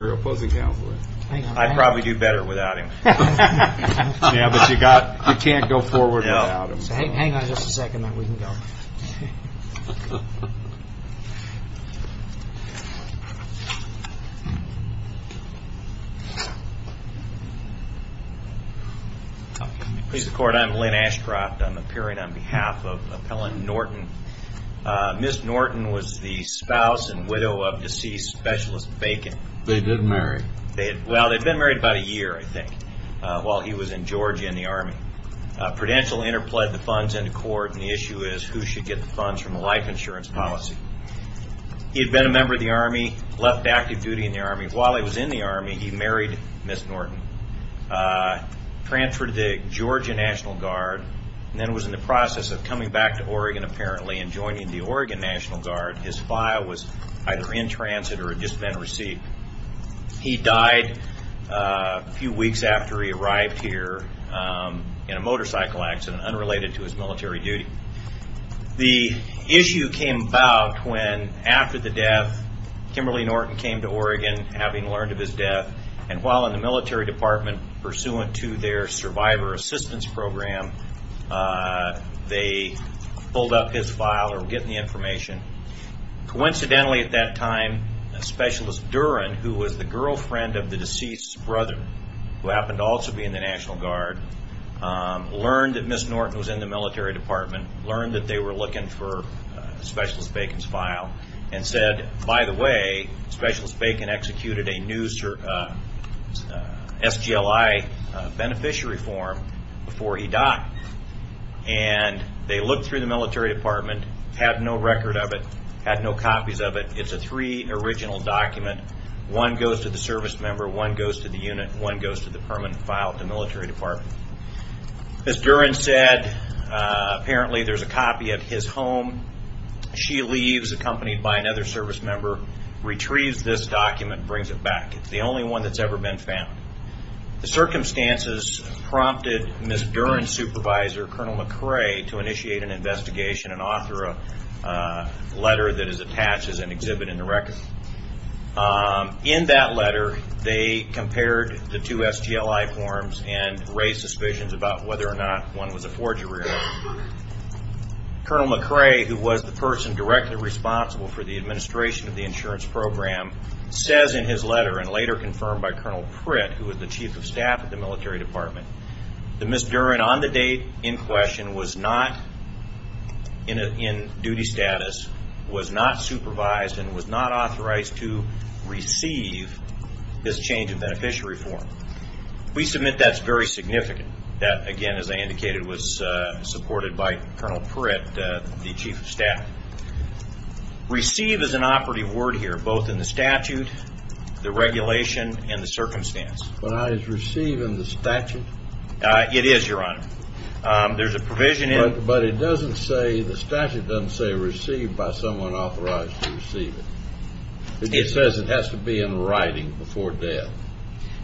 Counselor. I'd probably do better without him. Yeah, but you can't go forward without him. Hang on just a second, then we can go. Mr. Court, I'm Lynn Ashcroft. I'm appearing on behalf of Appellant Norton. Ms. Norton was the spouse and widow of deceased Specialist Bacon. They did marry. Well, they'd been married about a year, I think, while he was in Georgia in the Army. Prudential interpled the funds into court, and the issue is who should get the funds from the life insurance policy. He had been a member of the Army, left active duty in the Army. While he was in the Army, he married Ms. Norton, transferred to the Georgia National Guard, and then was in the National Guard. His file was either in transit or had just been received. He died a few weeks after he arrived here in a motorcycle accident, unrelated to his military duty. The issue came about when, after the death, Kimberly Norton came to Oregon, having learned of his death, and while in the military department, pursuant to their survivor assistance program, they pulled up his file or were getting the information. Coincidentally, at that time, Specialist Duren, who was the girlfriend of the deceased's brother, who happened to also be in the National Guard, learned that Ms. Norton was in the military department, learned that they were looking for Specialist Bacon's file, and said, by the way, Specialist Bacon executed a new SGLI beneficiary form before he died. They looked through the military department, had no record of it, had no copies of it. It's a three original document. One goes to the service member, one goes to the unit, one goes to the permanent file at the military department. As Duren said, apparently there's a copy at his home. She leaves, accompanied by another service member, retrieves this document, brings it back. It's the only one that's ever been found. The circumstances prompted Ms. Duren's supervisor, Colonel McRae, to initiate an investigation and author a letter that is attached as an exhibit in the record. In that letter, they compared the two SGLI forms and raised suspicions about whether or not one was a forgery or not. Colonel McRae, who was the person directly responsible for the administration of the insurance program, says in his letter, and later confirmed by Colonel Pritt, who was the chief of staff at the military department, that Ms. Duren, on the date in question, was not in duty status, was not supervised, and was not authorized to receive this change of beneficiary form. We submit that's very significant. That, again, as I indicated, was supported by Colonel Pritt, the chief of staff. Receive is an operative word here, both in the statute, the regulation, and the circumstance. But is receive in the statute? It is, Your Honor. There's a provision in it. But it doesn't say, the statute doesn't say receive by someone authorized to receive it. It says it has to be in writing before death.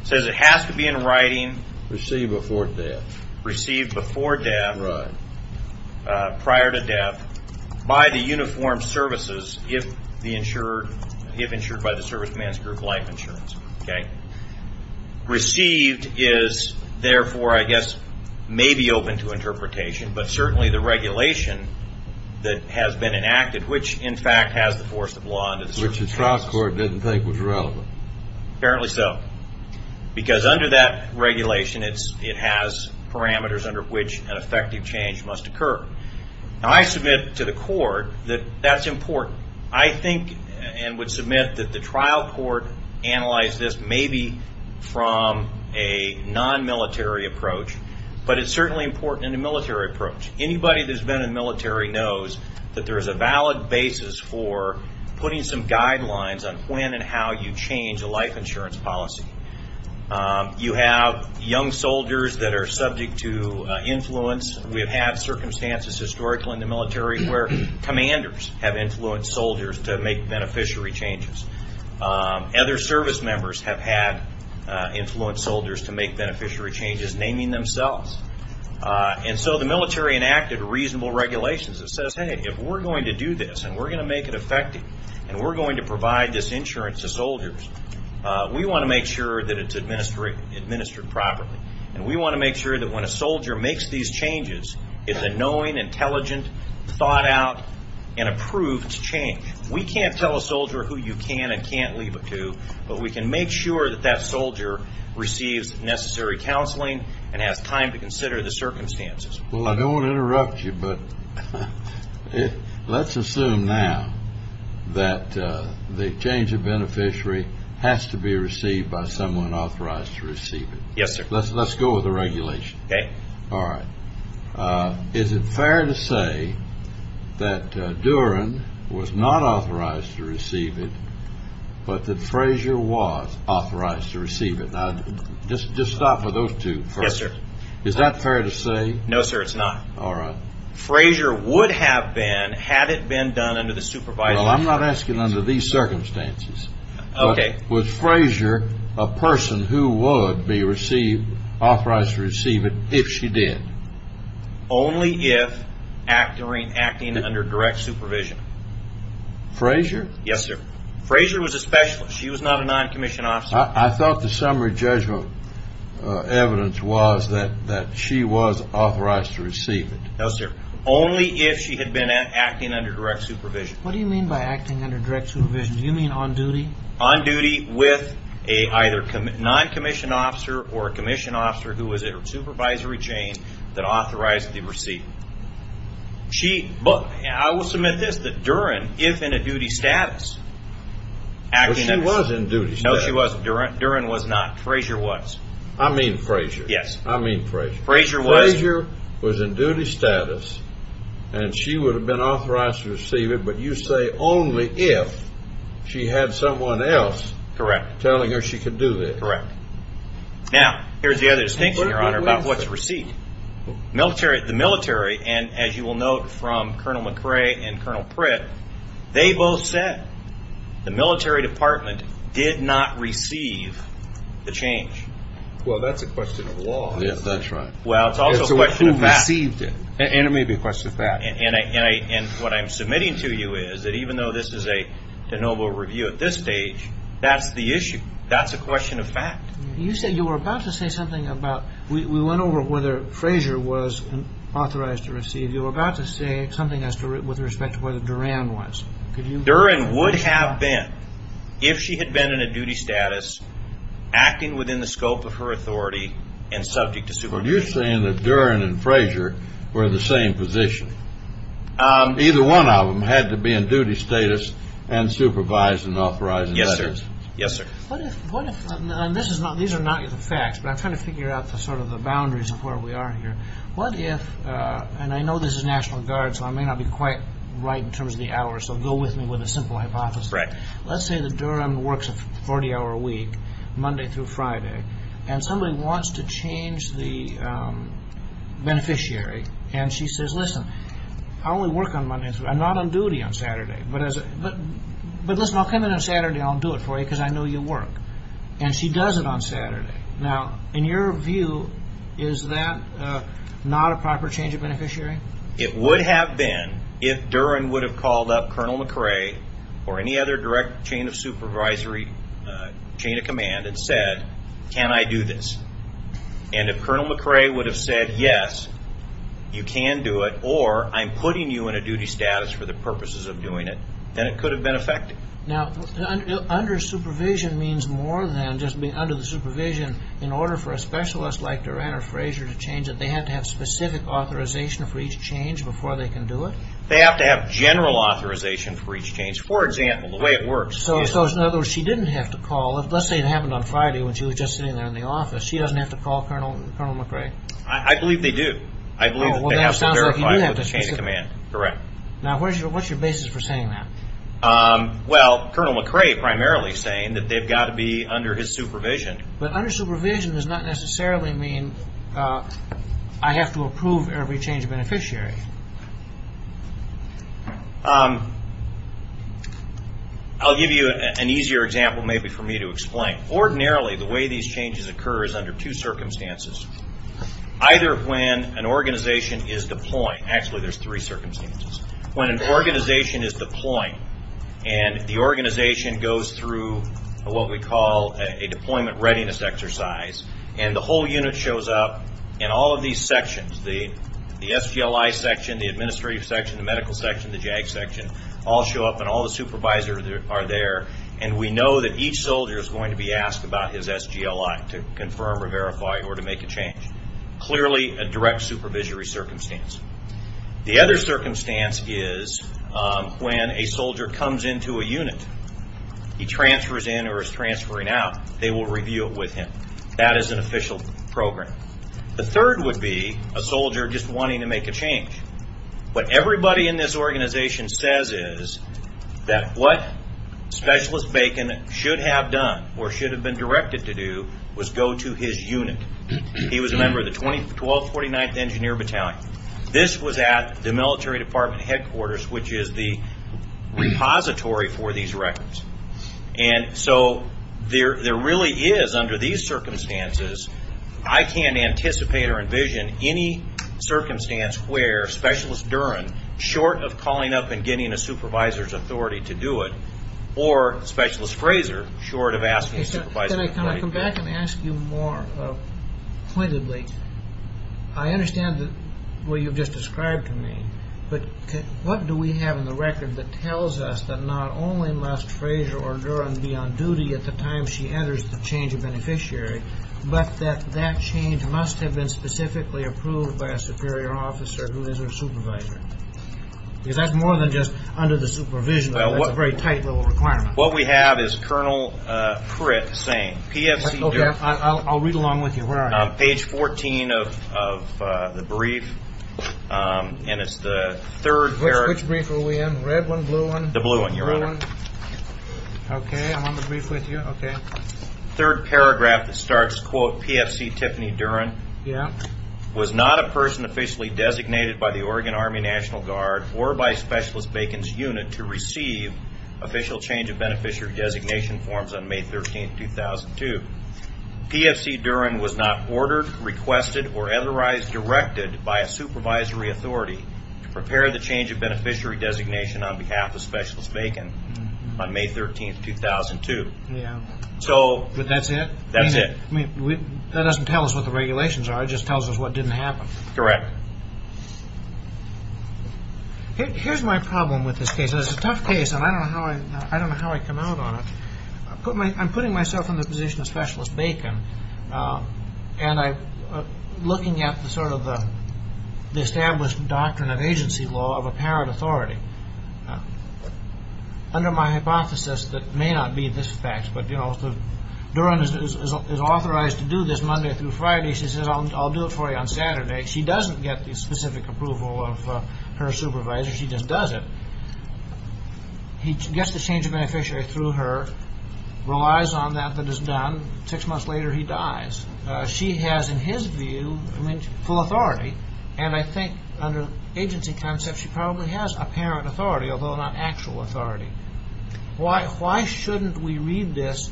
It says it has to be in writing. Received before death. Received before death. Right. Prior to death, by the uniformed services, if insured by the service man's group life insurance. Okay? Received is, therefore, I guess, may be open to interpretation, but certainly the regulation that has been enacted, which, in fact, has the force of law under the circumstances. Which the trial court didn't think was relevant. Apparently so. Because under that regulation, it has parameters under which an effective change must occur. Now, I submit to the court that that's important. I think and would submit that the trial court analyzed this maybe from a non-military approach, but it's certainly important in a military approach. Anybody that's been in the military knows that there is a valid basis for putting some guidelines on when and how you change a life insurance policy. You have young soldiers that are subject to influence. We have had circumstances historically in the military where commanders have influenced soldiers to make beneficiary changes. Other service members have had influenced soldiers to make beneficiary changes, naming themselves. And so the military enacted reasonable regulations that says, hey, if we're going to do this, and we're going to make it effective, and we're going to provide this insurance to soldiers, we want to make sure that it's administered properly. And we want to make sure that when a soldier makes these changes, it's a knowing, intelligent, thought out, and approved change. We can't tell a soldier who you can and can't leave it to, but we can make sure that that soldier receives necessary counseling and has time to consider the circumstances. Well, I don't want to interrupt you, but let's assume now that the change of beneficiary has to be received by someone authorized to receive it. Yes, sir. Let's go with the regulation. Okay. All right. Is it fair to say that Duran was not authorized to receive it, but that Frazier was authorized to receive it? Now, just stop with those two first. Yes, sir. Is that fair to say? No, sir, it's not. All right. Frazier would have been had it been done under the supervisory process. Well, I'm not asking under these circumstances. Okay. But was Frazier a person who would be authorized to receive it if she did? Only if acting under direct supervision. Frazier? Yes, sir. Frazier was a specialist. She was not a noncommissioned officer. I thought the summary judgment evidence was that she was authorized to receive it. No, sir. Only if she had been acting under direct supervision. What do you mean by acting under direct supervision? Do you mean on duty? On duty with a either noncommissioned officer or a commissioned officer who was in her supervisory chain that authorized the receiving. I will submit this, that Duran, if in a duty status, acting as a supervisor. Well, she was in duty status. No, she wasn't. Duran was not. Frazier was. I mean Frazier. Yes. I mean Frazier. Frazier was. Frazier was in duty status, and she would have been authorized to receive it, but you say only if she had someone else telling her she could do that. Correct. Now, here's the other distinction, Your Honor, about what's received. The military, and as you will note from Colonel McRae and Colonel Pritt, they both said the military department did not receive the change. Well, that's a question of law. Yes, that's right. Well, it's also a question of fact. It's who received it. And it may be a question of fact. And what I'm submitting to you is that even though this is a de novo review at this stage, that's the issue. That's a question of fact. You said you were about to say something about we went over whether Frazier was authorized to receive. You were about to say something with respect to whether Duran was. Duran would have been if she had been in a duty status, acting within the scope of her authority, and subject to supervision. Are you saying that Duran and Frazier were in the same position? Either one of them had to be in duty status and supervised and authorized in letters. Yes, sir. Yes, sir. These are not facts, but I'm trying to figure out sort of the boundaries of where we are here. What if, and I know this is National Guard, so I may not be quite right in terms of the hours, so go with me with a simple hypothesis. Let's say that Duran works a 40-hour week, Monday through Friday, and somebody wants to change the beneficiary. And she says, listen, I only work on Monday through Friday. I'm not on duty on Saturday. But listen, I'll come in on Saturday and I'll do it for you because I know you work. And she does it on Saturday. Now, in your view, is that not a proper change of beneficiary? It would have been if Duran would have called up Colonel McRae or any other direct chain of supervisory chain of command and said, can I do this? And if Colonel McRae would have said, yes, you can do it, or I'm putting you in a duty status for the purposes of doing it, then it could have been effective. Now, under supervision means more than just being under the supervision in order for a specialist like Duran or Frazier to change it. They have to have specific authorization for each change before they can do it? They have to have general authorization for each change. For example, the way it works. So in other words, she didn't have to call. Well, let's say it happened on Friday when she was just sitting there in the office. She doesn't have to call Colonel McRae? I believe they do. I believe they have to verify it with the chain of command. Correct. Now, what's your basis for saying that? Well, Colonel McRae primarily saying that they've got to be under his supervision. But under supervision does not necessarily mean I have to approve every change of beneficiary. I'll give you an easier example maybe for me to explain. Ordinarily, the way these changes occur is under two circumstances. Either when an organization is deploying. Actually, there's three circumstances. When an organization is deploying, and the organization goes through what we call a deployment readiness exercise, and the whole unit shows up, and all of these sections, the SGLI section, the administrative section, the medical section, the JAG section, all show up, and all the supervisors are there. And we know that each soldier is going to be asked about his SGLI to confirm or verify or to make a change. Clearly a direct supervisory circumstance. The other circumstance is when a soldier comes into a unit, he transfers in or is transferring out, they will review it with him. That is an official program. The third would be a soldier just wanting to make a change. What everybody in this organization says is that what Specialist Bacon should have done or should have been directed to do was go to his unit. He was a member of the 1249th Engineer Battalion. This was at the military department headquarters, which is the repository for these records. And so there really is, under these circumstances, I can't anticipate or envision any circumstance where Specialist Duren, short of calling up and getting a supervisor's authority to do it, or Specialist Fraser, short of asking a supervisor's authority to do it. Can I come back and ask you more pointedly? I understand what you've just described to me, but what do we have in the record that tells us that not only must Fraser or Duren be on duty at the time she enters the change of beneficiary, but that that change must have been specifically approved by a superior officer who is her supervisor? Because that's more than just under the supervision. That's a very tight little requirement. What we have is Colonel Pritt saying, PFC Duren. I'll read along with you. Page 14 of the brief, and it's the third paragraph. Which brief are we in, the red one, blue one? The blue one, Your Honor. Okay, I'm on the brief with you. Third paragraph that starts, quote, PFC Tiffany Duren was not a person officially designated by the Oregon Army National Guard or by Specialist Bacon's unit to receive official change of beneficiary designation forms on May 13, 2002. PFC Duren was not ordered, requested, or otherwise directed by a supervisory authority to prepare the change of beneficiary designation on behalf of Specialist Bacon on May 13, 2002. But that's it? That's it. That doesn't tell us what the regulations are. It just tells us what didn't happen. Correct. Here's my problem with this case. It's a tough case, and I don't know how I come out on it. I'm putting myself in the position of Specialist Bacon, and I'm looking at sort of the established doctrine of agency law of apparent authority. Under my hypothesis that may not be this fact, but, you know, Duren is authorized to do this Monday through Friday. She says, I'll do it for you on Saturday. She doesn't get the specific approval of her supervisor. She just does it. He gets the change of beneficiary through her, relies on that that is done. Six months later, he dies. She has, in his view, full authority, and I think under agency concepts she probably has apparent authority, although not actual authority. Why shouldn't we read this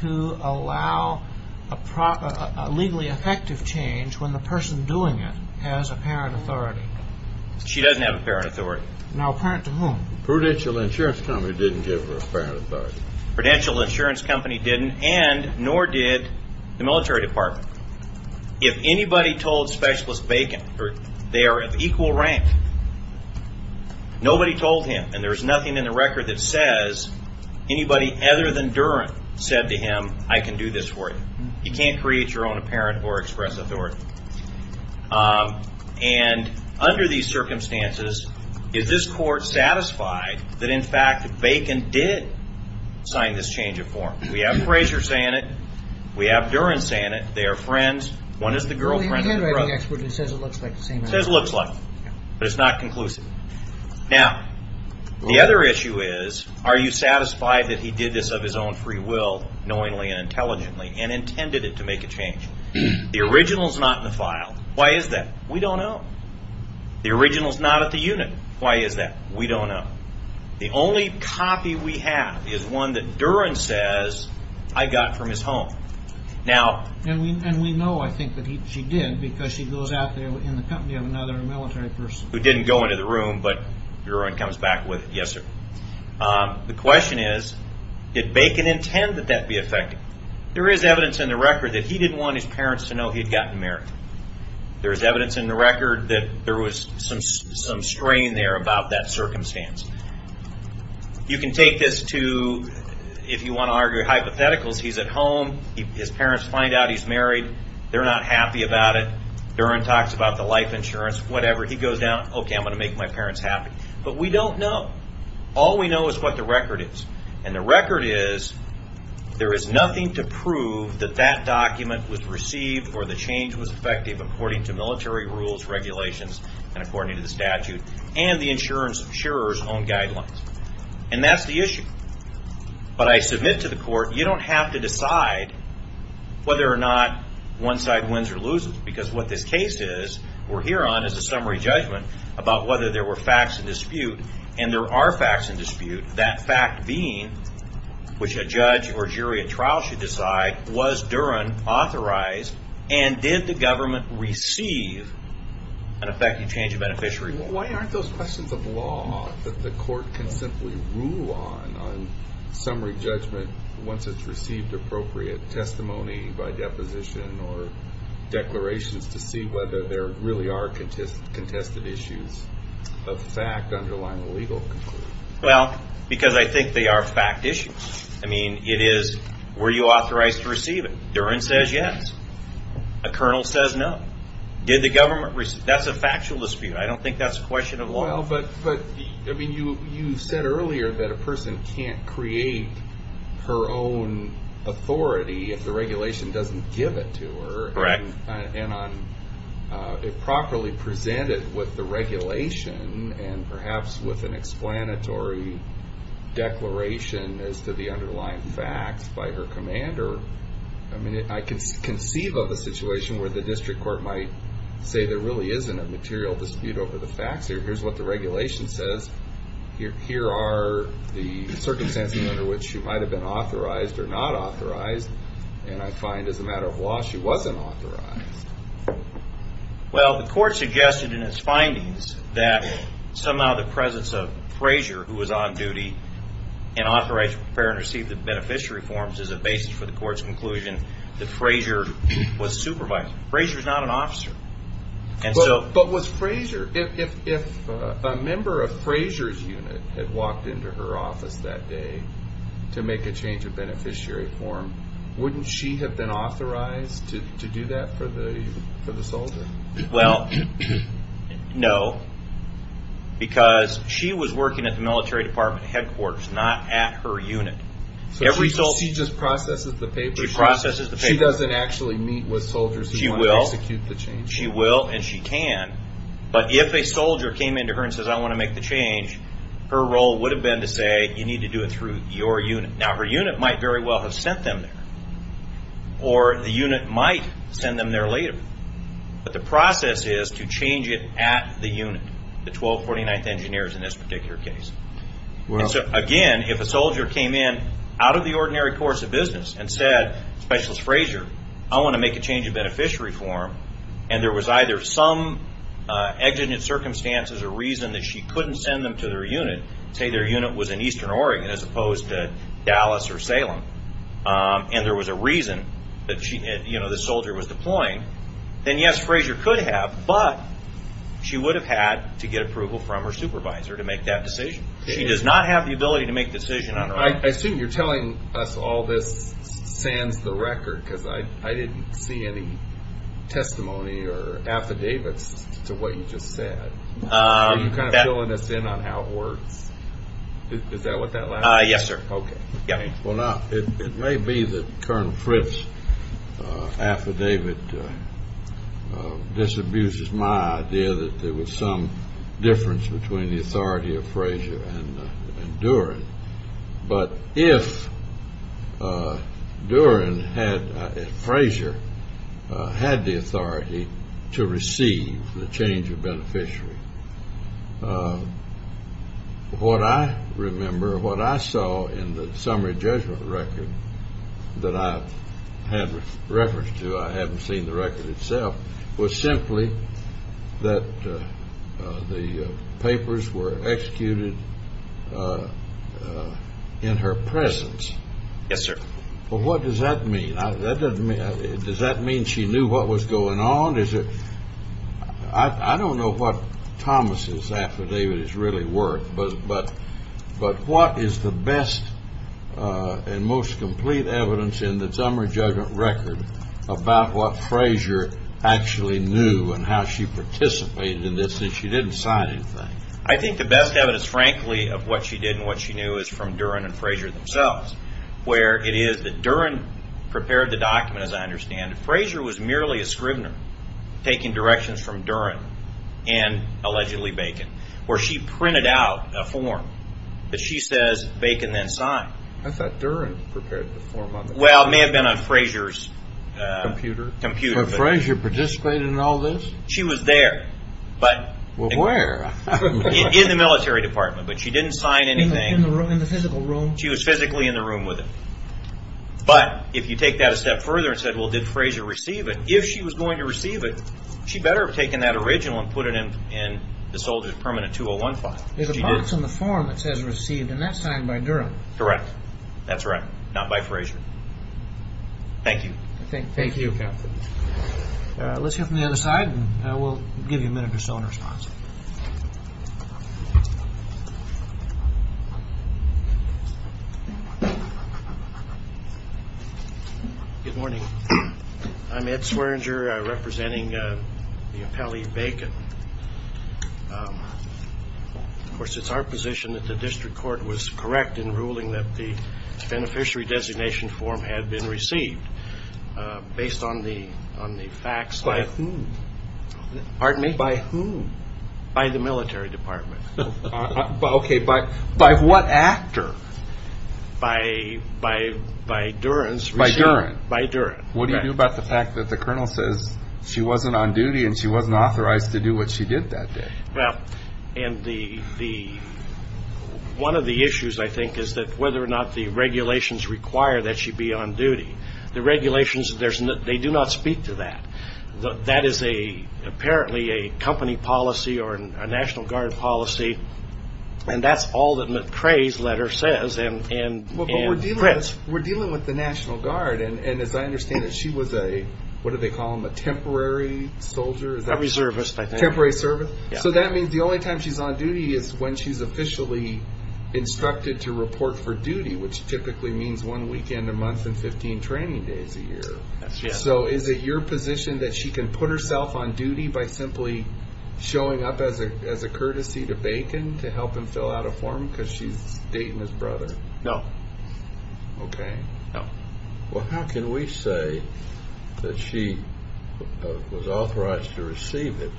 to allow a legally effective change when the person doing it has apparent authority? She doesn't have apparent authority. Now, apparent to whom? Prudential Insurance Company didn't give her apparent authority. Prudential Insurance Company didn't, and nor did the military department. If anybody told Specialist Bacon they are of equal rank, nobody told him, and there's nothing in the record that says anybody other than Duren said to him, I can do this for you. You can't create your own apparent or express authority. Under these circumstances, is this court satisfied that, in fact, Bacon did sign this change of form? We have Fraser saying it. We have Duren saying it. They are friends. One is the girlfriend and the other is the brother. It says it looks like the same. It says it looks like it, but it's not conclusive. Now, the other issue is are you satisfied that he did this of his own free will, knowingly and intelligently, and intended it to make a change? The original is not in the file. Why is that? We don't know. The original is not at the unit. Why is that? We don't know. The only copy we have is one that Duren says I got from his home. And we know, I think, that she did because she goes out there in the company of another military person. Who didn't go into the room, but Duren comes back with it. Yes, sir. The question is did Bacon intend that that be effective? There is evidence in the record that he didn't want his parents to know he had gotten married. There is evidence in the record that there was some strain there about that circumstance. You can take this to, if you want to argue hypotheticals, he's at home. His parents find out he's married. They're not happy about it. Duren talks about the life insurance, whatever. He goes down, okay, I'm going to make my parents happy. But we don't know. All we know is what the record is. And the record is there is nothing to prove that that document was received or the change was effective according to military rules, regulations, and according to the statute and the insurer's own guidelines. And that's the issue. But I submit to the court you don't have to decide whether or not one side wins or loses because what this case is, we're here on, is a summary judgment about whether there were facts in dispute. And there are facts in dispute. That fact being, which a judge or jury at trial should decide, was Duren authorized and did the government receive an effective change of beneficiary law? Why aren't those questions of law that the court can simply rule on, on summary judgment, once it's received appropriate testimony by deposition or declarations to see whether there really are contested issues of fact underlying a legal conclusion? Well, because I think they are fact issues. I mean, it is, were you authorized to receive it? Duren says yes. A colonel says no. Did the government receive? That's a factual dispute. I don't think that's a question of law. Well, but, I mean, you said earlier that a person can't create her own authority if the regulation doesn't give it to her. Correct. And on it properly presented with the regulation and perhaps with an explanatory declaration as to the underlying facts by her commander, I mean, I can conceive of a situation where the district court might say there really isn't a material dispute over the facts. Here's what the regulation says. Here are the circumstances under which she might have been authorized or not authorized. And I find as a matter of law she wasn't authorized. Well, the court suggested in its findings that somehow the presence of Frazier, who was on duty and authorized to prepare and receive the beneficiary forms as a basis for the court's conclusion that Frazier was supervising. Frazier is not an officer. But was Frazier, if a member of Frazier's unit had walked into her office that day to make a change of beneficiary form, wouldn't she have been authorized to do that for the soldier? Well, no, because she was working at the military department headquarters, not at her unit. So she just processes the papers? She processes the papers. She doesn't actually meet with soldiers who want to execute the change? She will, and she can. But if a soldier came into her and says, I want to make the change, her role would have been to say, you need to do it through your unit. Now, her unit might very well have sent them there, or the unit might send them there later. But the process is to change it at the unit, the 1249th engineers in this particular case. And so, again, if a soldier came in out of the ordinary course of business and said, Specialist Frazier, I want to make a change of beneficiary form, and there was either some exigent circumstances or there was a reason that she couldn't send them to their unit, say their unit was in eastern Oregon as opposed to Dallas or Salem, and there was a reason that this soldier was deploying, then, yes, Frazier could have, but she would have had to get approval from her supervisor to make that decision. She does not have the ability to make a decision on her own. I assume you're telling us all this sands the record, because I didn't see any testimony or affidavits to what you just said. Are you kind of filling us in on how it works? Is that what that lasts for? Yes, sir. Okay. Well, now, it may be that Colonel Fritz's affidavit disabuses my idea but if Duren had, if Frazier had the authority to receive the change of beneficiary, what I remember, what I saw in the summary judgment record that I had reference to, I haven't seen the record itself, was simply that the papers were executed in her presence. Yes, sir. But what does that mean? Does that mean she knew what was going on? I don't know what Thomas's affidavit is really worth, but what is the best and most complete evidence in the summary judgment record about what Frazier actually knew and how she participated in this that she didn't sign anything? I think the best evidence, frankly, of what she did and what she knew is from Duren and Frazier themselves, where it is that Duren prepared the document, as I understand it. Frazier was merely a scrivener taking directions from Duren and allegedly Bacon, where she printed out a form that she says Bacon then signed. I thought Duren prepared the form on that. Well, it may have been on Frazier's computer. But Frazier participated in all this? She was there. Where? In the military department, but she didn't sign anything. In the physical room? She was physically in the room with him. But if you take that a step further and said, well, did Frazier receive it? If she was going to receive it, she better have taken that original and put it in the soldier's permanent 201 file. There's a box on the form that says received, and that's signed by Duren. Correct. That's right. Not by Frazier. Thank you. Thank you, Captain. Let's hear from the other side, and we'll give you a minute or so in response. Good morning. I'm Ed Swearinger, representing the appellee Bacon. Of course, it's our position that the district court was correct in ruling that the beneficiary designation form had been received based on the facts. By whom? Pardon me? By whom? By the military department. Okay, but by what actor? By Duren's receipt. By Duren? By Duren. What do you do about the fact that the colonel says she wasn't on duty and she wasn't authorized to do what she did that day? Well, one of the issues, I think, is that whether or not the regulations require that she be on duty. The regulations, they do not speak to that. That is apparently a company policy or a National Guard policy, and that's all that McCrae's letter says. But we're dealing with the National Guard, and as I understand it, she was a, what do they call them, a temporary soldier? Temporary service. Temporary service. So that means the only time she's on duty is when she's officially instructed to report for duty, which typically means one weekend a month and 15 training days a year. So is it your position that she can put herself on duty by simply showing up as a courtesy to Bacon to help him fill out a form because she's dating his brother? No. Okay. No. Well, how can we say that she was authorized to receive it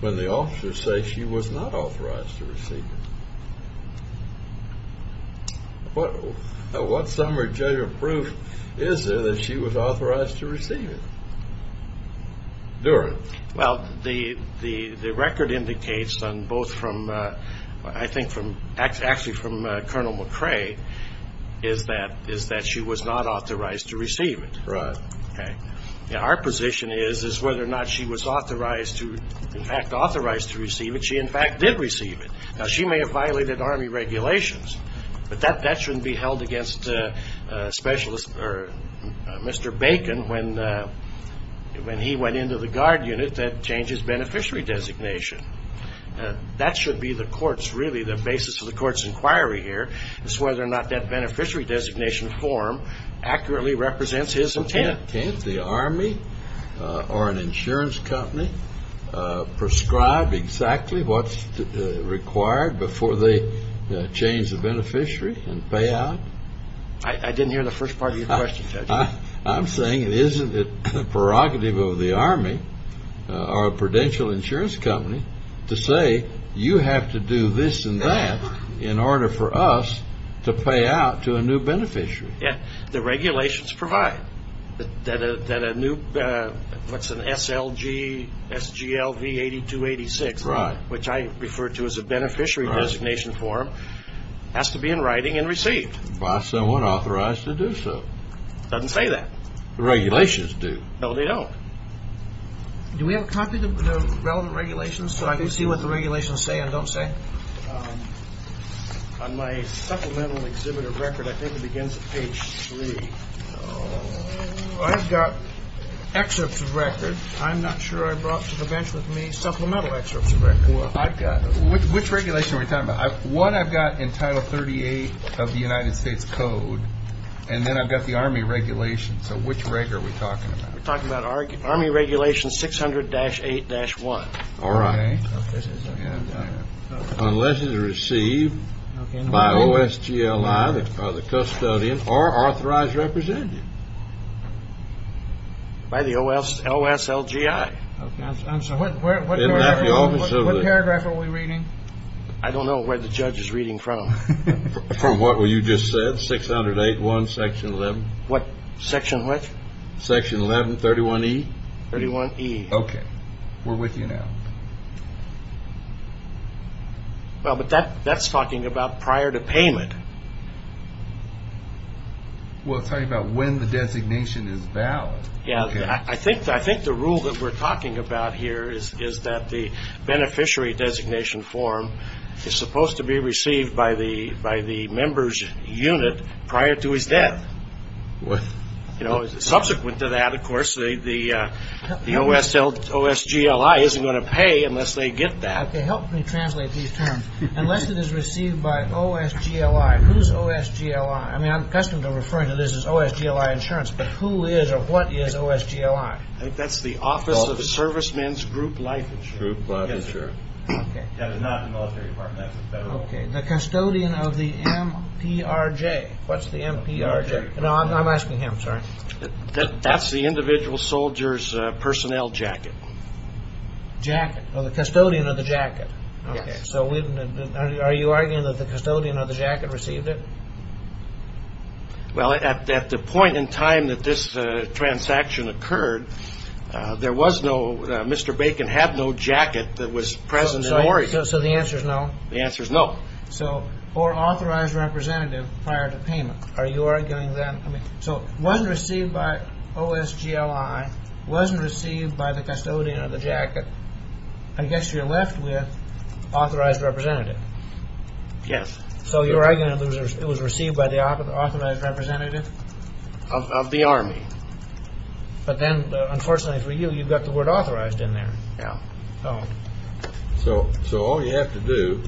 when the officers say she was not authorized to receive it? What summary judgement proof is there that she was authorized to receive it during? Well, the record indicates on both from, I think, actually from Colonel McCrae, is that she was not authorized to receive it. Right. Okay. Our position is whether or not she was authorized to, in fact, authorized to receive it. She, in fact, did receive it. Now, she may have violated Army regulations, but that shouldn't be held against Mr. Bacon when he went into the Guard unit that changed his beneficiary designation. That should be the court's, really, the basis of the court's inquiry here is whether or not that beneficiary designation form accurately represents his intent. Can't the Army or an insurance company prescribe exactly what's required before they change the beneficiary and pay out? I didn't hear the first part of your question, Judge. I'm saying isn't it the prerogative of the Army or a prudential insurance company to say you have to do this and that in order for us to pay out to a new beneficiary? Yeah. The regulations provide that a new, what's an SLG, SGLV 8286, which I refer to as a beneficiary designation form, has to be in writing and received. By someone authorized to do so. It doesn't say that. The regulations do. No, they don't. Do we have a copy of the relevant regulations so I can see what the regulations say and don't say? On my supplemental exhibit of record, I think it begins at page 3. I've got excerpts of record. I'm not sure I brought to the bench with me supplemental excerpts of record. Which regulation are we talking about? One I've got in Title 38 of the United States Code, and then I've got the Army regulation. So which reg are we talking about? We're talking about Army regulation 600-8-1. All right. Unless it is received by OSGLI, the custodian, or authorized representative. By the OSLGI. So what paragraph are we reading? I don't know where the judge is reading from. From what you just said, 600-8-1, Section 11. What? Section what? Section 11, 31E? 31E. Okay. We're with you now. Well, but that's talking about prior to payment. Well, it's talking about when the designation is valid. Yeah, I think the rule that we're talking about here is that the beneficiary designation form is supposed to be received by the member's unit prior to his death. Subsequent to that, of course, the OSGLI isn't going to pay unless they get that. Okay. Help me translate these terms. Unless it is received by OSGLI. Who's OSGLI? I mean, I'm accustomed to referring to this as OSGLI insurance, but who is or what is OSGLI? I think that's the Office of Servicemen's Group Life Insurance. That is not the military department. That's the federal. Okay. The custodian of the MPRJ. What's the MPRJ? No, I'm asking him. Sorry. That's the individual soldier's personnel jacket. Jacket. Oh, the custodian of the jacket. Yes. Okay. So are you arguing that the custodian of the jacket received it? Well, at the point in time that this transaction occurred, there was no Mr. Bacon had no jacket that was present in Oregon. So the answer is no? The answer is no. So, or authorized representative prior to payment. Are you arguing that, I mean, so it wasn't received by OSGLI, wasn't received by the custodian of the jacket. I guess you're left with authorized representative. Yes. So you're arguing it was received by the authorized representative? Of the Army. But then, unfortunately for you, you've got the word authorized in there. Yeah. Oh. So all you have to do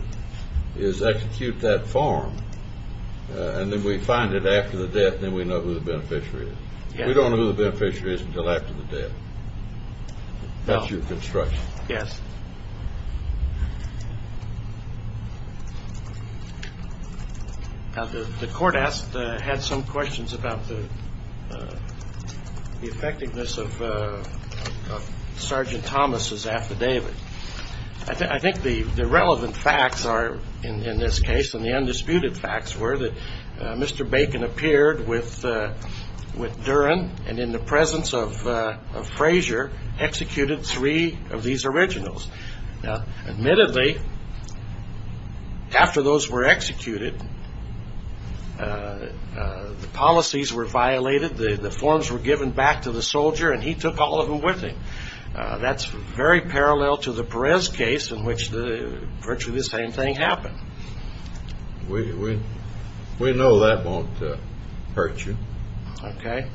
is execute that form, and then we find it after the death, and then we know who the beneficiary is. We don't know who the beneficiary is until after the death. Yes. Now, the court asked, had some questions about the effectiveness of Sergeant Thomas's affidavit. I think the relevant facts are, in this case, and the undisputed facts were that Mr. Bacon appeared with Duren, and in the presence of Frazier, executed three of these originals. Now, admittedly, after those were executed, the policies were violated, the forms were given back to the soldier, and he took all of them with him. That's very parallel to the Perez case in which virtually the same thing happened. We know that won't hurt you. Okay.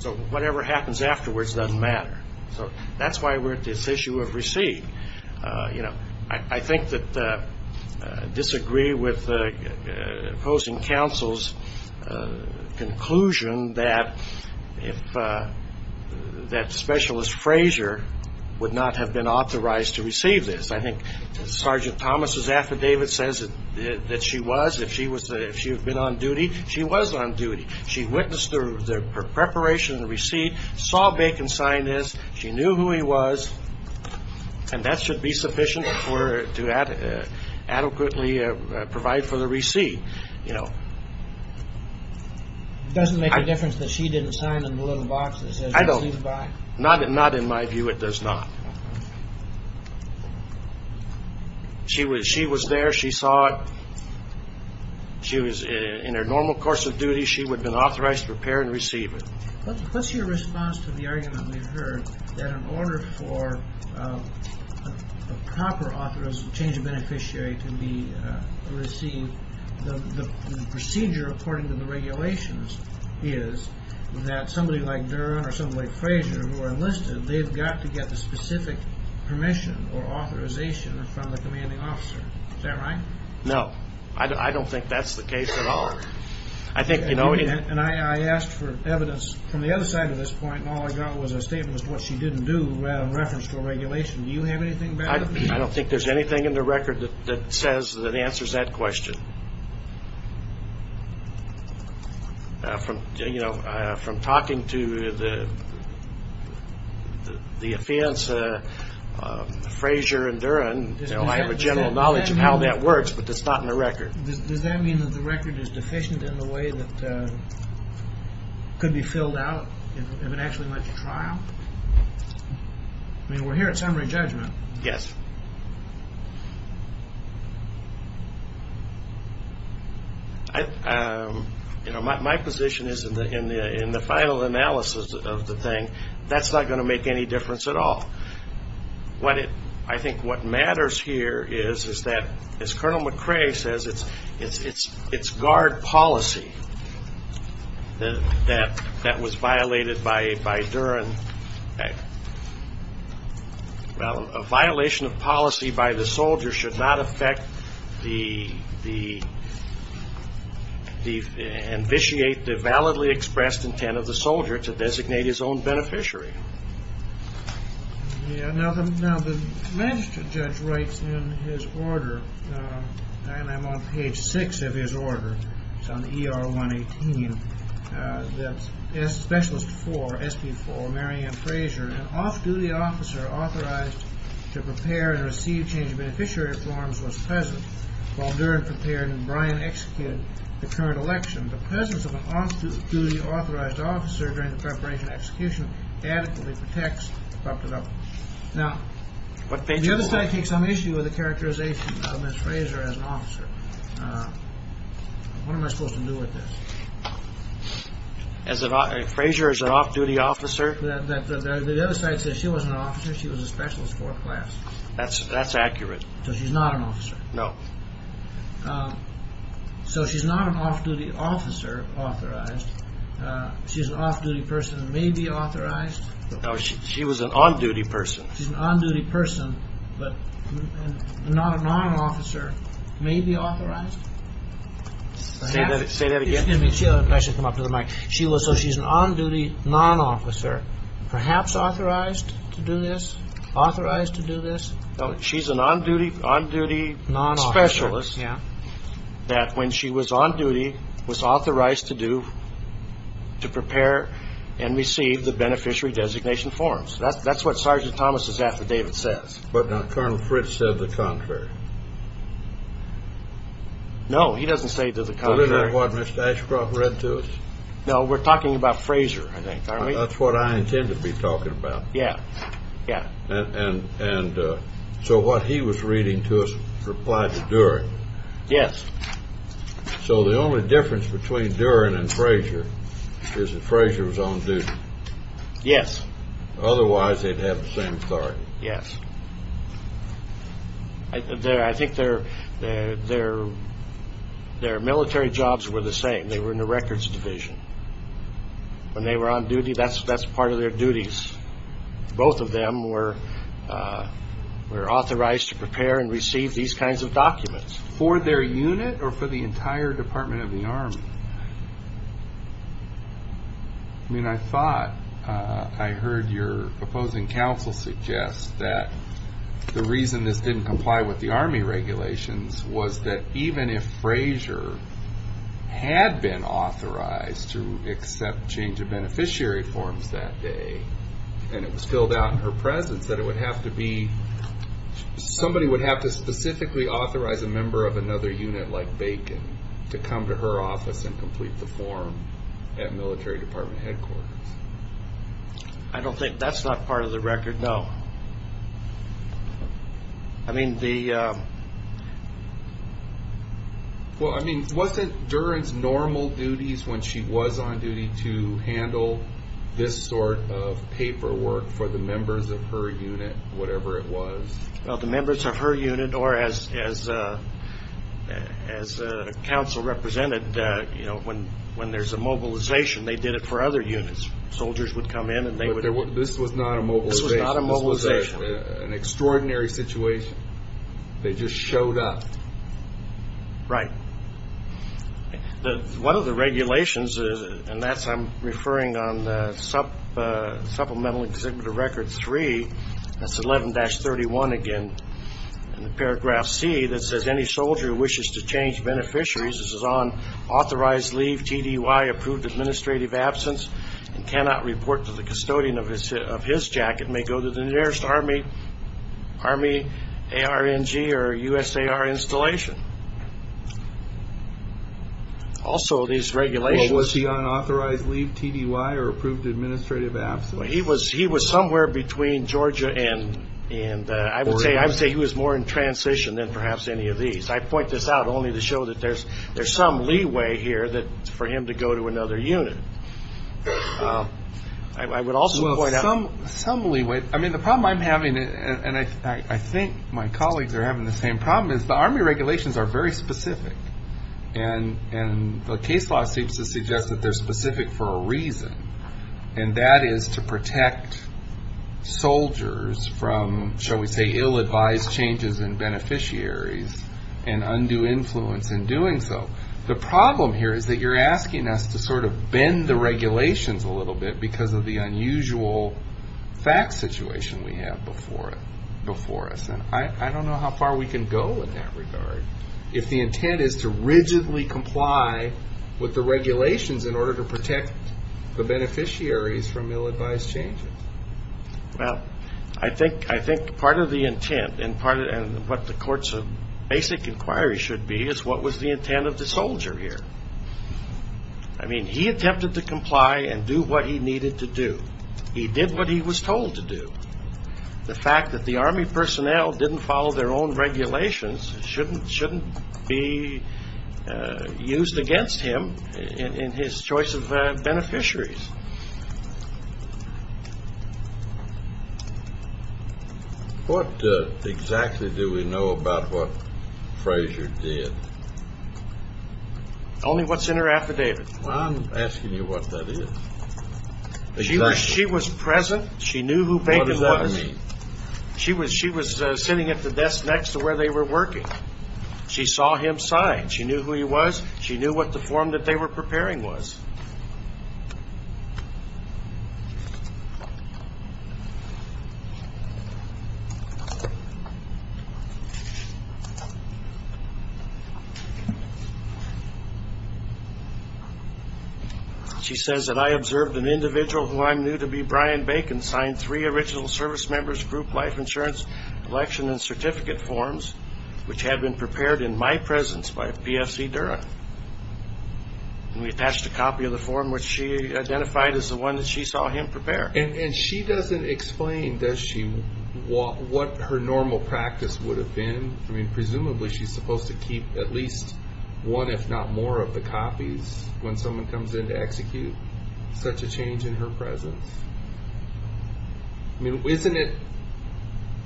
So whatever happens afterwards doesn't matter. So that's why we're at this issue of receipt. You know, I think that I disagree with opposing counsel's conclusion that Specialist Frazier would not have been authorized to receive this. I think Sergeant Thomas's affidavit says that she was. If she had been on duty, she was on duty. She witnessed the preparation of the receipt, saw Bacon sign this, she knew who he was, and that should be sufficient to adequately provide for the receipt, you know. It doesn't make a difference that she didn't sign the little box that says receive by. Not in my view, it does not. She was there, she saw it. She was in her normal course of duty. She would have been authorized to prepare and receive it. What's your response to the argument we've heard that in order for a proper change of beneficiary to be received, the procedure according to the regulations is that somebody like Duren or somebody like Frazier who are enlisted, they've got to get the specific permission or authorization from the commanding officer. Is that right? No. I don't think that's the case at all. And I asked for evidence. From the other side of this point, all I got was a statement as to what she didn't do in reference to a regulation. Do you have anything back to me? I don't think there's anything in the record that says that answers that question. From talking to the defense, Frazier and Duren, I have a general knowledge of how that works, but it's not in the record. Does that mean that the record is deficient in the way that could be filled out if it actually went to trial? I mean, we're here at summary judgment. Yes. My position is in the final analysis of the thing, that's not going to make any difference at all. I think what matters here is that, as Colonel McCrae says, it's guard policy that was violated by Duren. Well, a violation of policy by the soldier should not affect the – ambitiate the validly expressed intent of the soldier to designate his own beneficiary. Now, the magistrate judge writes in his order, and I'm on page six of his order, it's on ER 118, that Specialist 4, SP4, Marianne Frazier, an off-duty officer authorized to prepare and receive change of beneficiary forms was present. While Duren prepared and Brian executed the current election, the presence of an off-duty authorized officer during the preparation and execution adequately protects – Now, the other side takes some issue with the characterization of Ms. Frazier as an officer. What am I supposed to do with this? Frazier as an off-duty officer? The other side says she wasn't an officer, she was a Specialist 4 class. That's accurate. So she's not an officer. No. So she's not an off-duty officer authorized. She's an off-duty person who may be authorized. No, she was an on-duty person. She's an on-duty person, but not a non-officer, may be authorized? Say that again. Excuse me. I should come up to the mic. So she's an on-duty non-officer, perhaps authorized to do this, authorized to do this? She's an on-duty specialist that when she was on-duty was authorized to do, to prepare and receive the beneficiary designation forms. That's what Sergeant Thomas' affidavit says. But now Colonel Fritz said the contrary. No, he doesn't say the contrary. So isn't that what Mr. Ashcroft read to us? No, we're talking about Frazier, I think, aren't we? That's what I intend to be talking about. Yeah, yeah. And so what he was reading to us replied to Duren. Yes. So the only difference between Duren and Frazier is that Frazier was on-duty. Yes. Otherwise they'd have the same authority. Yes. I think their military jobs were the same. They were in the records division. When they were on-duty, that's part of their duties. Both of them were authorized to prepare and receive these kinds of documents. For their unit or for the entire Department of the Army? I thought I heard your proposing counsel suggest that the reason this didn't comply with the Army regulations was that even if Frazier had been authorized to accept change of beneficiary forms that day and it was filled out in her presence, that it would have to be somebody would have to specifically authorize a member of another unit like Bacon to come to her office and complete the form at military department headquarters. I don't think that's not part of the record, no. I mean, the... Well, I mean, wasn't Duren's normal duties when she was on-duty to handle this sort of paperwork for the members of her unit, whatever it was? Well, the members of her unit or as counsel represented, when there's a mobilization, they did it for other units. Soldiers would come in and they would... But this was not a mobilization. This was not a mobilization. This was an extraordinary situation. They just showed up. Right. One of the regulations, and that's I'm referring on Supplemental Exhibitor Record 3, that's 11-31 again, in the paragraph C that says, Any soldier who wishes to change beneficiaries as is on authorized leave, TDY, approved administrative absence, and cannot report to the custodian of his jacket may go to the nearest Army ARNG or USAR installation. Also, these regulations... Was he on authorized leave, TDY, or approved administrative absence? He was somewhere between Georgia and... I would say he was more in transition than perhaps any of these. I point this out only to show that there's some leeway here for him to go to another unit. I would also point out... Some leeway. I mean, the problem I'm having, and I think my colleagues are having the same problem, is the Army regulations are very specific, and the case law seems to suggest that they're specific for a reason, and that is to protect soldiers from, shall we say, ill-advised changes in beneficiaries and undue influence in doing so. The problem here is that you're asking us to bend the regulations a little bit because of the unusual facts situation we have before us. I don't know how far we can go in that regard. If the intent is to rigidly comply with the regulations in order to protect the beneficiaries from ill-advised changes. Well, I think part of the intent and what the court's basic inquiry should be is what was the intent of the soldier here. I mean, he attempted to comply and do what he needed to do. He did what he was told to do. The fact that the Army personnel didn't follow their own regulations shouldn't be used against him in his choice of beneficiaries. What exactly do we know about what Fraser did? Only what's in her affidavit. I'm asking you what that is. She was present. She knew who Baker was. What does that mean? She was sitting at the desk next to where they were working. She saw him sign. She knew who he was. She knew what the form that they were preparing was. She says that, I observed an individual who I'm new to be, Brian Bacon, signed three original service members, group life insurance, election and certificate forms, which had been prepared in my presence by PFC Durham. We attached a copy of the form which she identified as the one that she saw him prepare. And she doesn't explain, does she, what her normal practice would have been? I mean, presumably she's supposed to keep at least one, if not more, of the copies when someone comes in to execute such a change in her presence. I mean, isn't it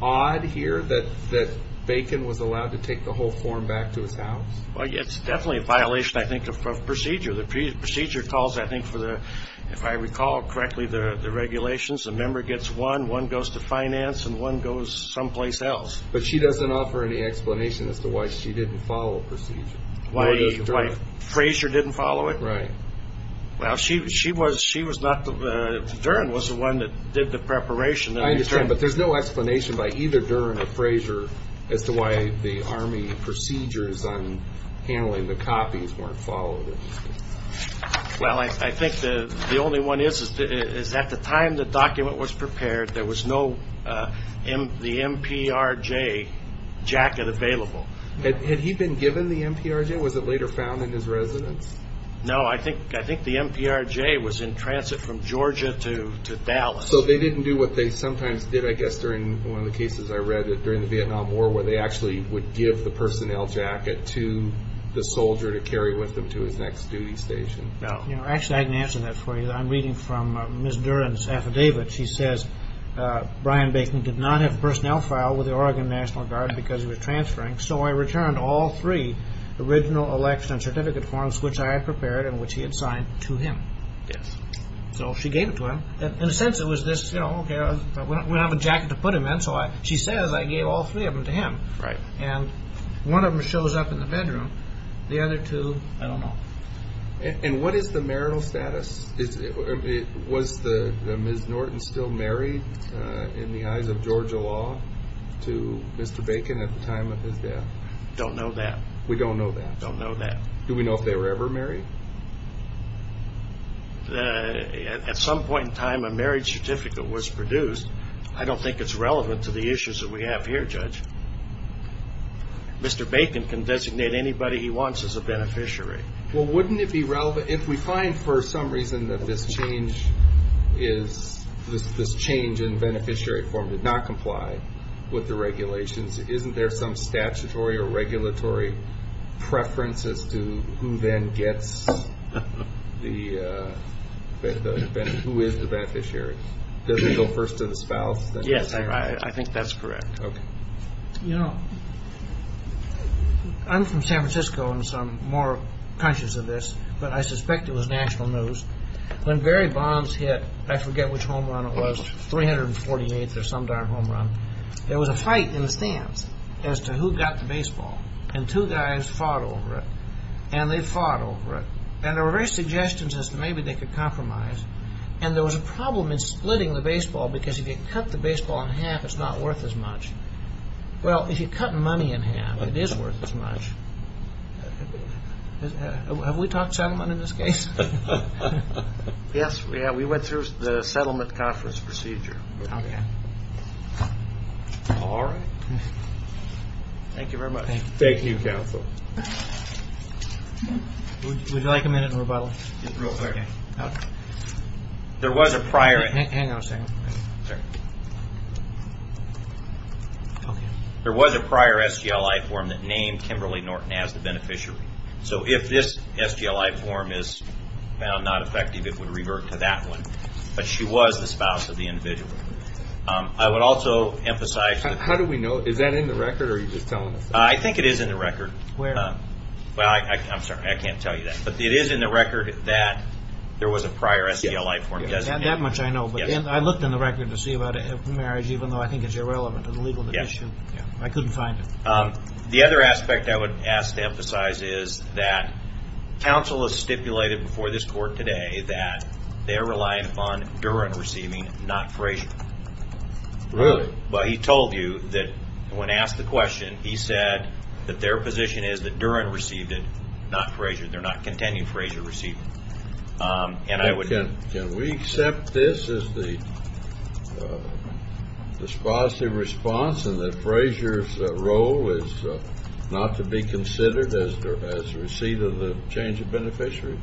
odd here that Bacon was allowed to take the whole form back to his house? It's definitely a violation, I think, of procedure. The procedure calls, I think, for the, if I recall correctly, the regulations. A member gets one, one goes to finance, and one goes someplace else. But she doesn't offer any explanation as to why she didn't follow procedure. Why Frazier didn't follow it? Right. Well, she was not the, Durham was the one that did the preparation. I understand, but there's no explanation by either Durham or Frazier as to why the Army procedures on handling the copies weren't followed. Well, I think the only one is, is at the time the document was prepared, there was no, the MPRJ jacket available. Had he been given the MPRJ? Was it later found in his residence? No, I think the MPRJ was in transit from Georgia to Dallas. So they didn't do what they sometimes did, I guess, during one of the cases I read during the Vietnam War, where they actually would give the personnel jacket to the soldier to carry with them to his next duty station. No. Actually, I can answer that for you. I'm reading from Ms. Durham's affidavit. She says, Brian Bacon did not have personnel file with the Oregon National Guard because he was transferring, so I returned all three original election certificate forms which I had prepared and which he had signed to him. Yes. So she gave it to him. In a sense, it was this, you know, okay, we don't have a jacket to put him in, so she says I gave all three of them to him. Right. And one of them shows up in the bedroom. The other two, I don't know. And what is the marital status? Was Ms. Norton still married in the eyes of Georgia law to Mr. Bacon at the time of his death? Don't know that. We don't know that. Don't know that. Do we know if they were ever married? At some point in time, a marriage certificate was produced. I don't think it's relevant to the issues that we have here, Judge. Mr. Bacon can designate anybody he wants as a beneficiary. Well, wouldn't it be relevant if we find for some reason that this change is, this change in beneficiary form did not comply with the regulations, isn't there some statutory or regulatory preference as to who then gets the, who is the beneficiary? Does it go first to the spouse? Yes, I think that's correct. Okay. You know, I'm from San Francisco and so I'm more conscious of this, but I suspect it was national news. When Barry Bonds hit, I forget which home run it was, 348th or some darn home run, there was a fight in the stands as to who got the baseball. And two guys fought over it. And they fought over it. And there were various suggestions as to maybe they could compromise. And there was a problem in splitting the baseball because if you cut the baseball in half, it's not worth as much. Well, if you cut money in half, it is worth as much. Have we talked settlement in this case? Yes, we have. We went through the settlement conference procedure. All right. Thank you very much. Thank you, counsel. Would you like a minute in rebuttal? Just real quick. Hang on a second. There was a prior SGLI form that named Kimberly Norton as the beneficiary. So if this SGLI form is found not effective, it would revert to that one. But she was the spouse of the individual. How do we know? Is that in the record or are you just telling us? I think it is in the record. Well, I'm sorry, I can't tell you that. But it is in the record that there was a prior SGLI form designated. That much I know. But I looked in the record to see about a marriage, even though I think it's irrelevant to the legal issue. I couldn't find it. The other aspect I would ask to emphasize is that counsel has stipulated before this court today that they're relying upon Duren receiving, not Frazier. Really? Well, he told you that when asked the question, he said that their position is that Duren received it, not Frazier. They're not contending Frazier received it. Can we accept this as the dispositive response and that Frazier's role is not to be considered as the receipt of the change of beneficiary?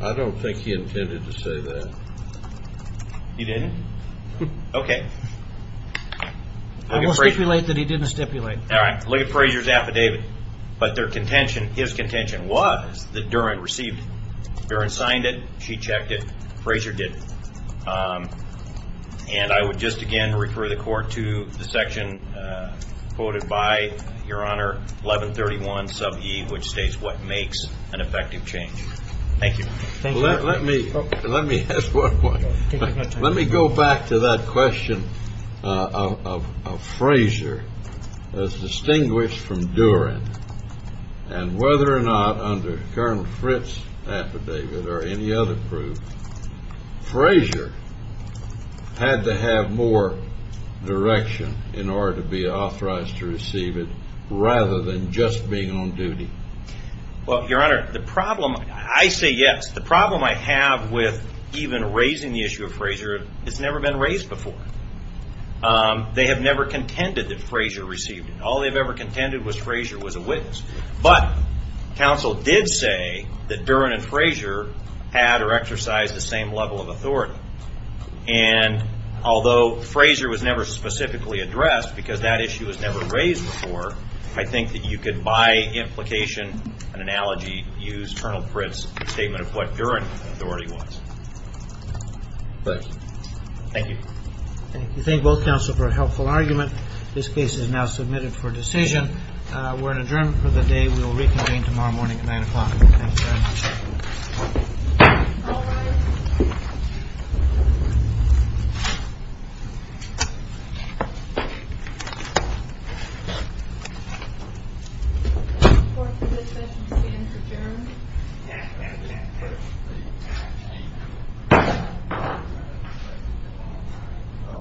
I don't think he intended to say that. He didn't? Okay. I'm going to stipulate that he didn't stipulate. All right, look at Frazier's affidavit. But their contention, his contention was that Duren received. Duren signed it. She checked it. Frazier didn't. And I would just again refer the court to the section quoted by Your Honor 1131 sub e, which states what makes an effective change. Thank you. Thank you. Let me ask one more. Let me go back to that question of Frazier as distinguished from Duren and whether or not under Colonel Fritz's affidavit or any other proof, Frazier had to have more direction in order to be authorized to receive it rather than just being on duty. Well, Your Honor, the problem, I say yes. The problem I have with even raising the issue of Frazier has never been raised before. They have never contended that Frazier received it. All they've ever contended was Frazier was a witness. But counsel did say that Duren and Frazier had or exercised the same level of authority. And although Frazier was never specifically addressed because that issue was never raised before, I think that you could by implication and analogy use Colonel Fritz's statement of what Duren authority was. Thank you. Thank you. Thank you. Thank both counsel for a helpful argument. This case is now submitted for decision. We're in adjournment for the day. We will reconvene tomorrow morning at 9 o'clock. Thank you very much. All rise. Court is adjourned.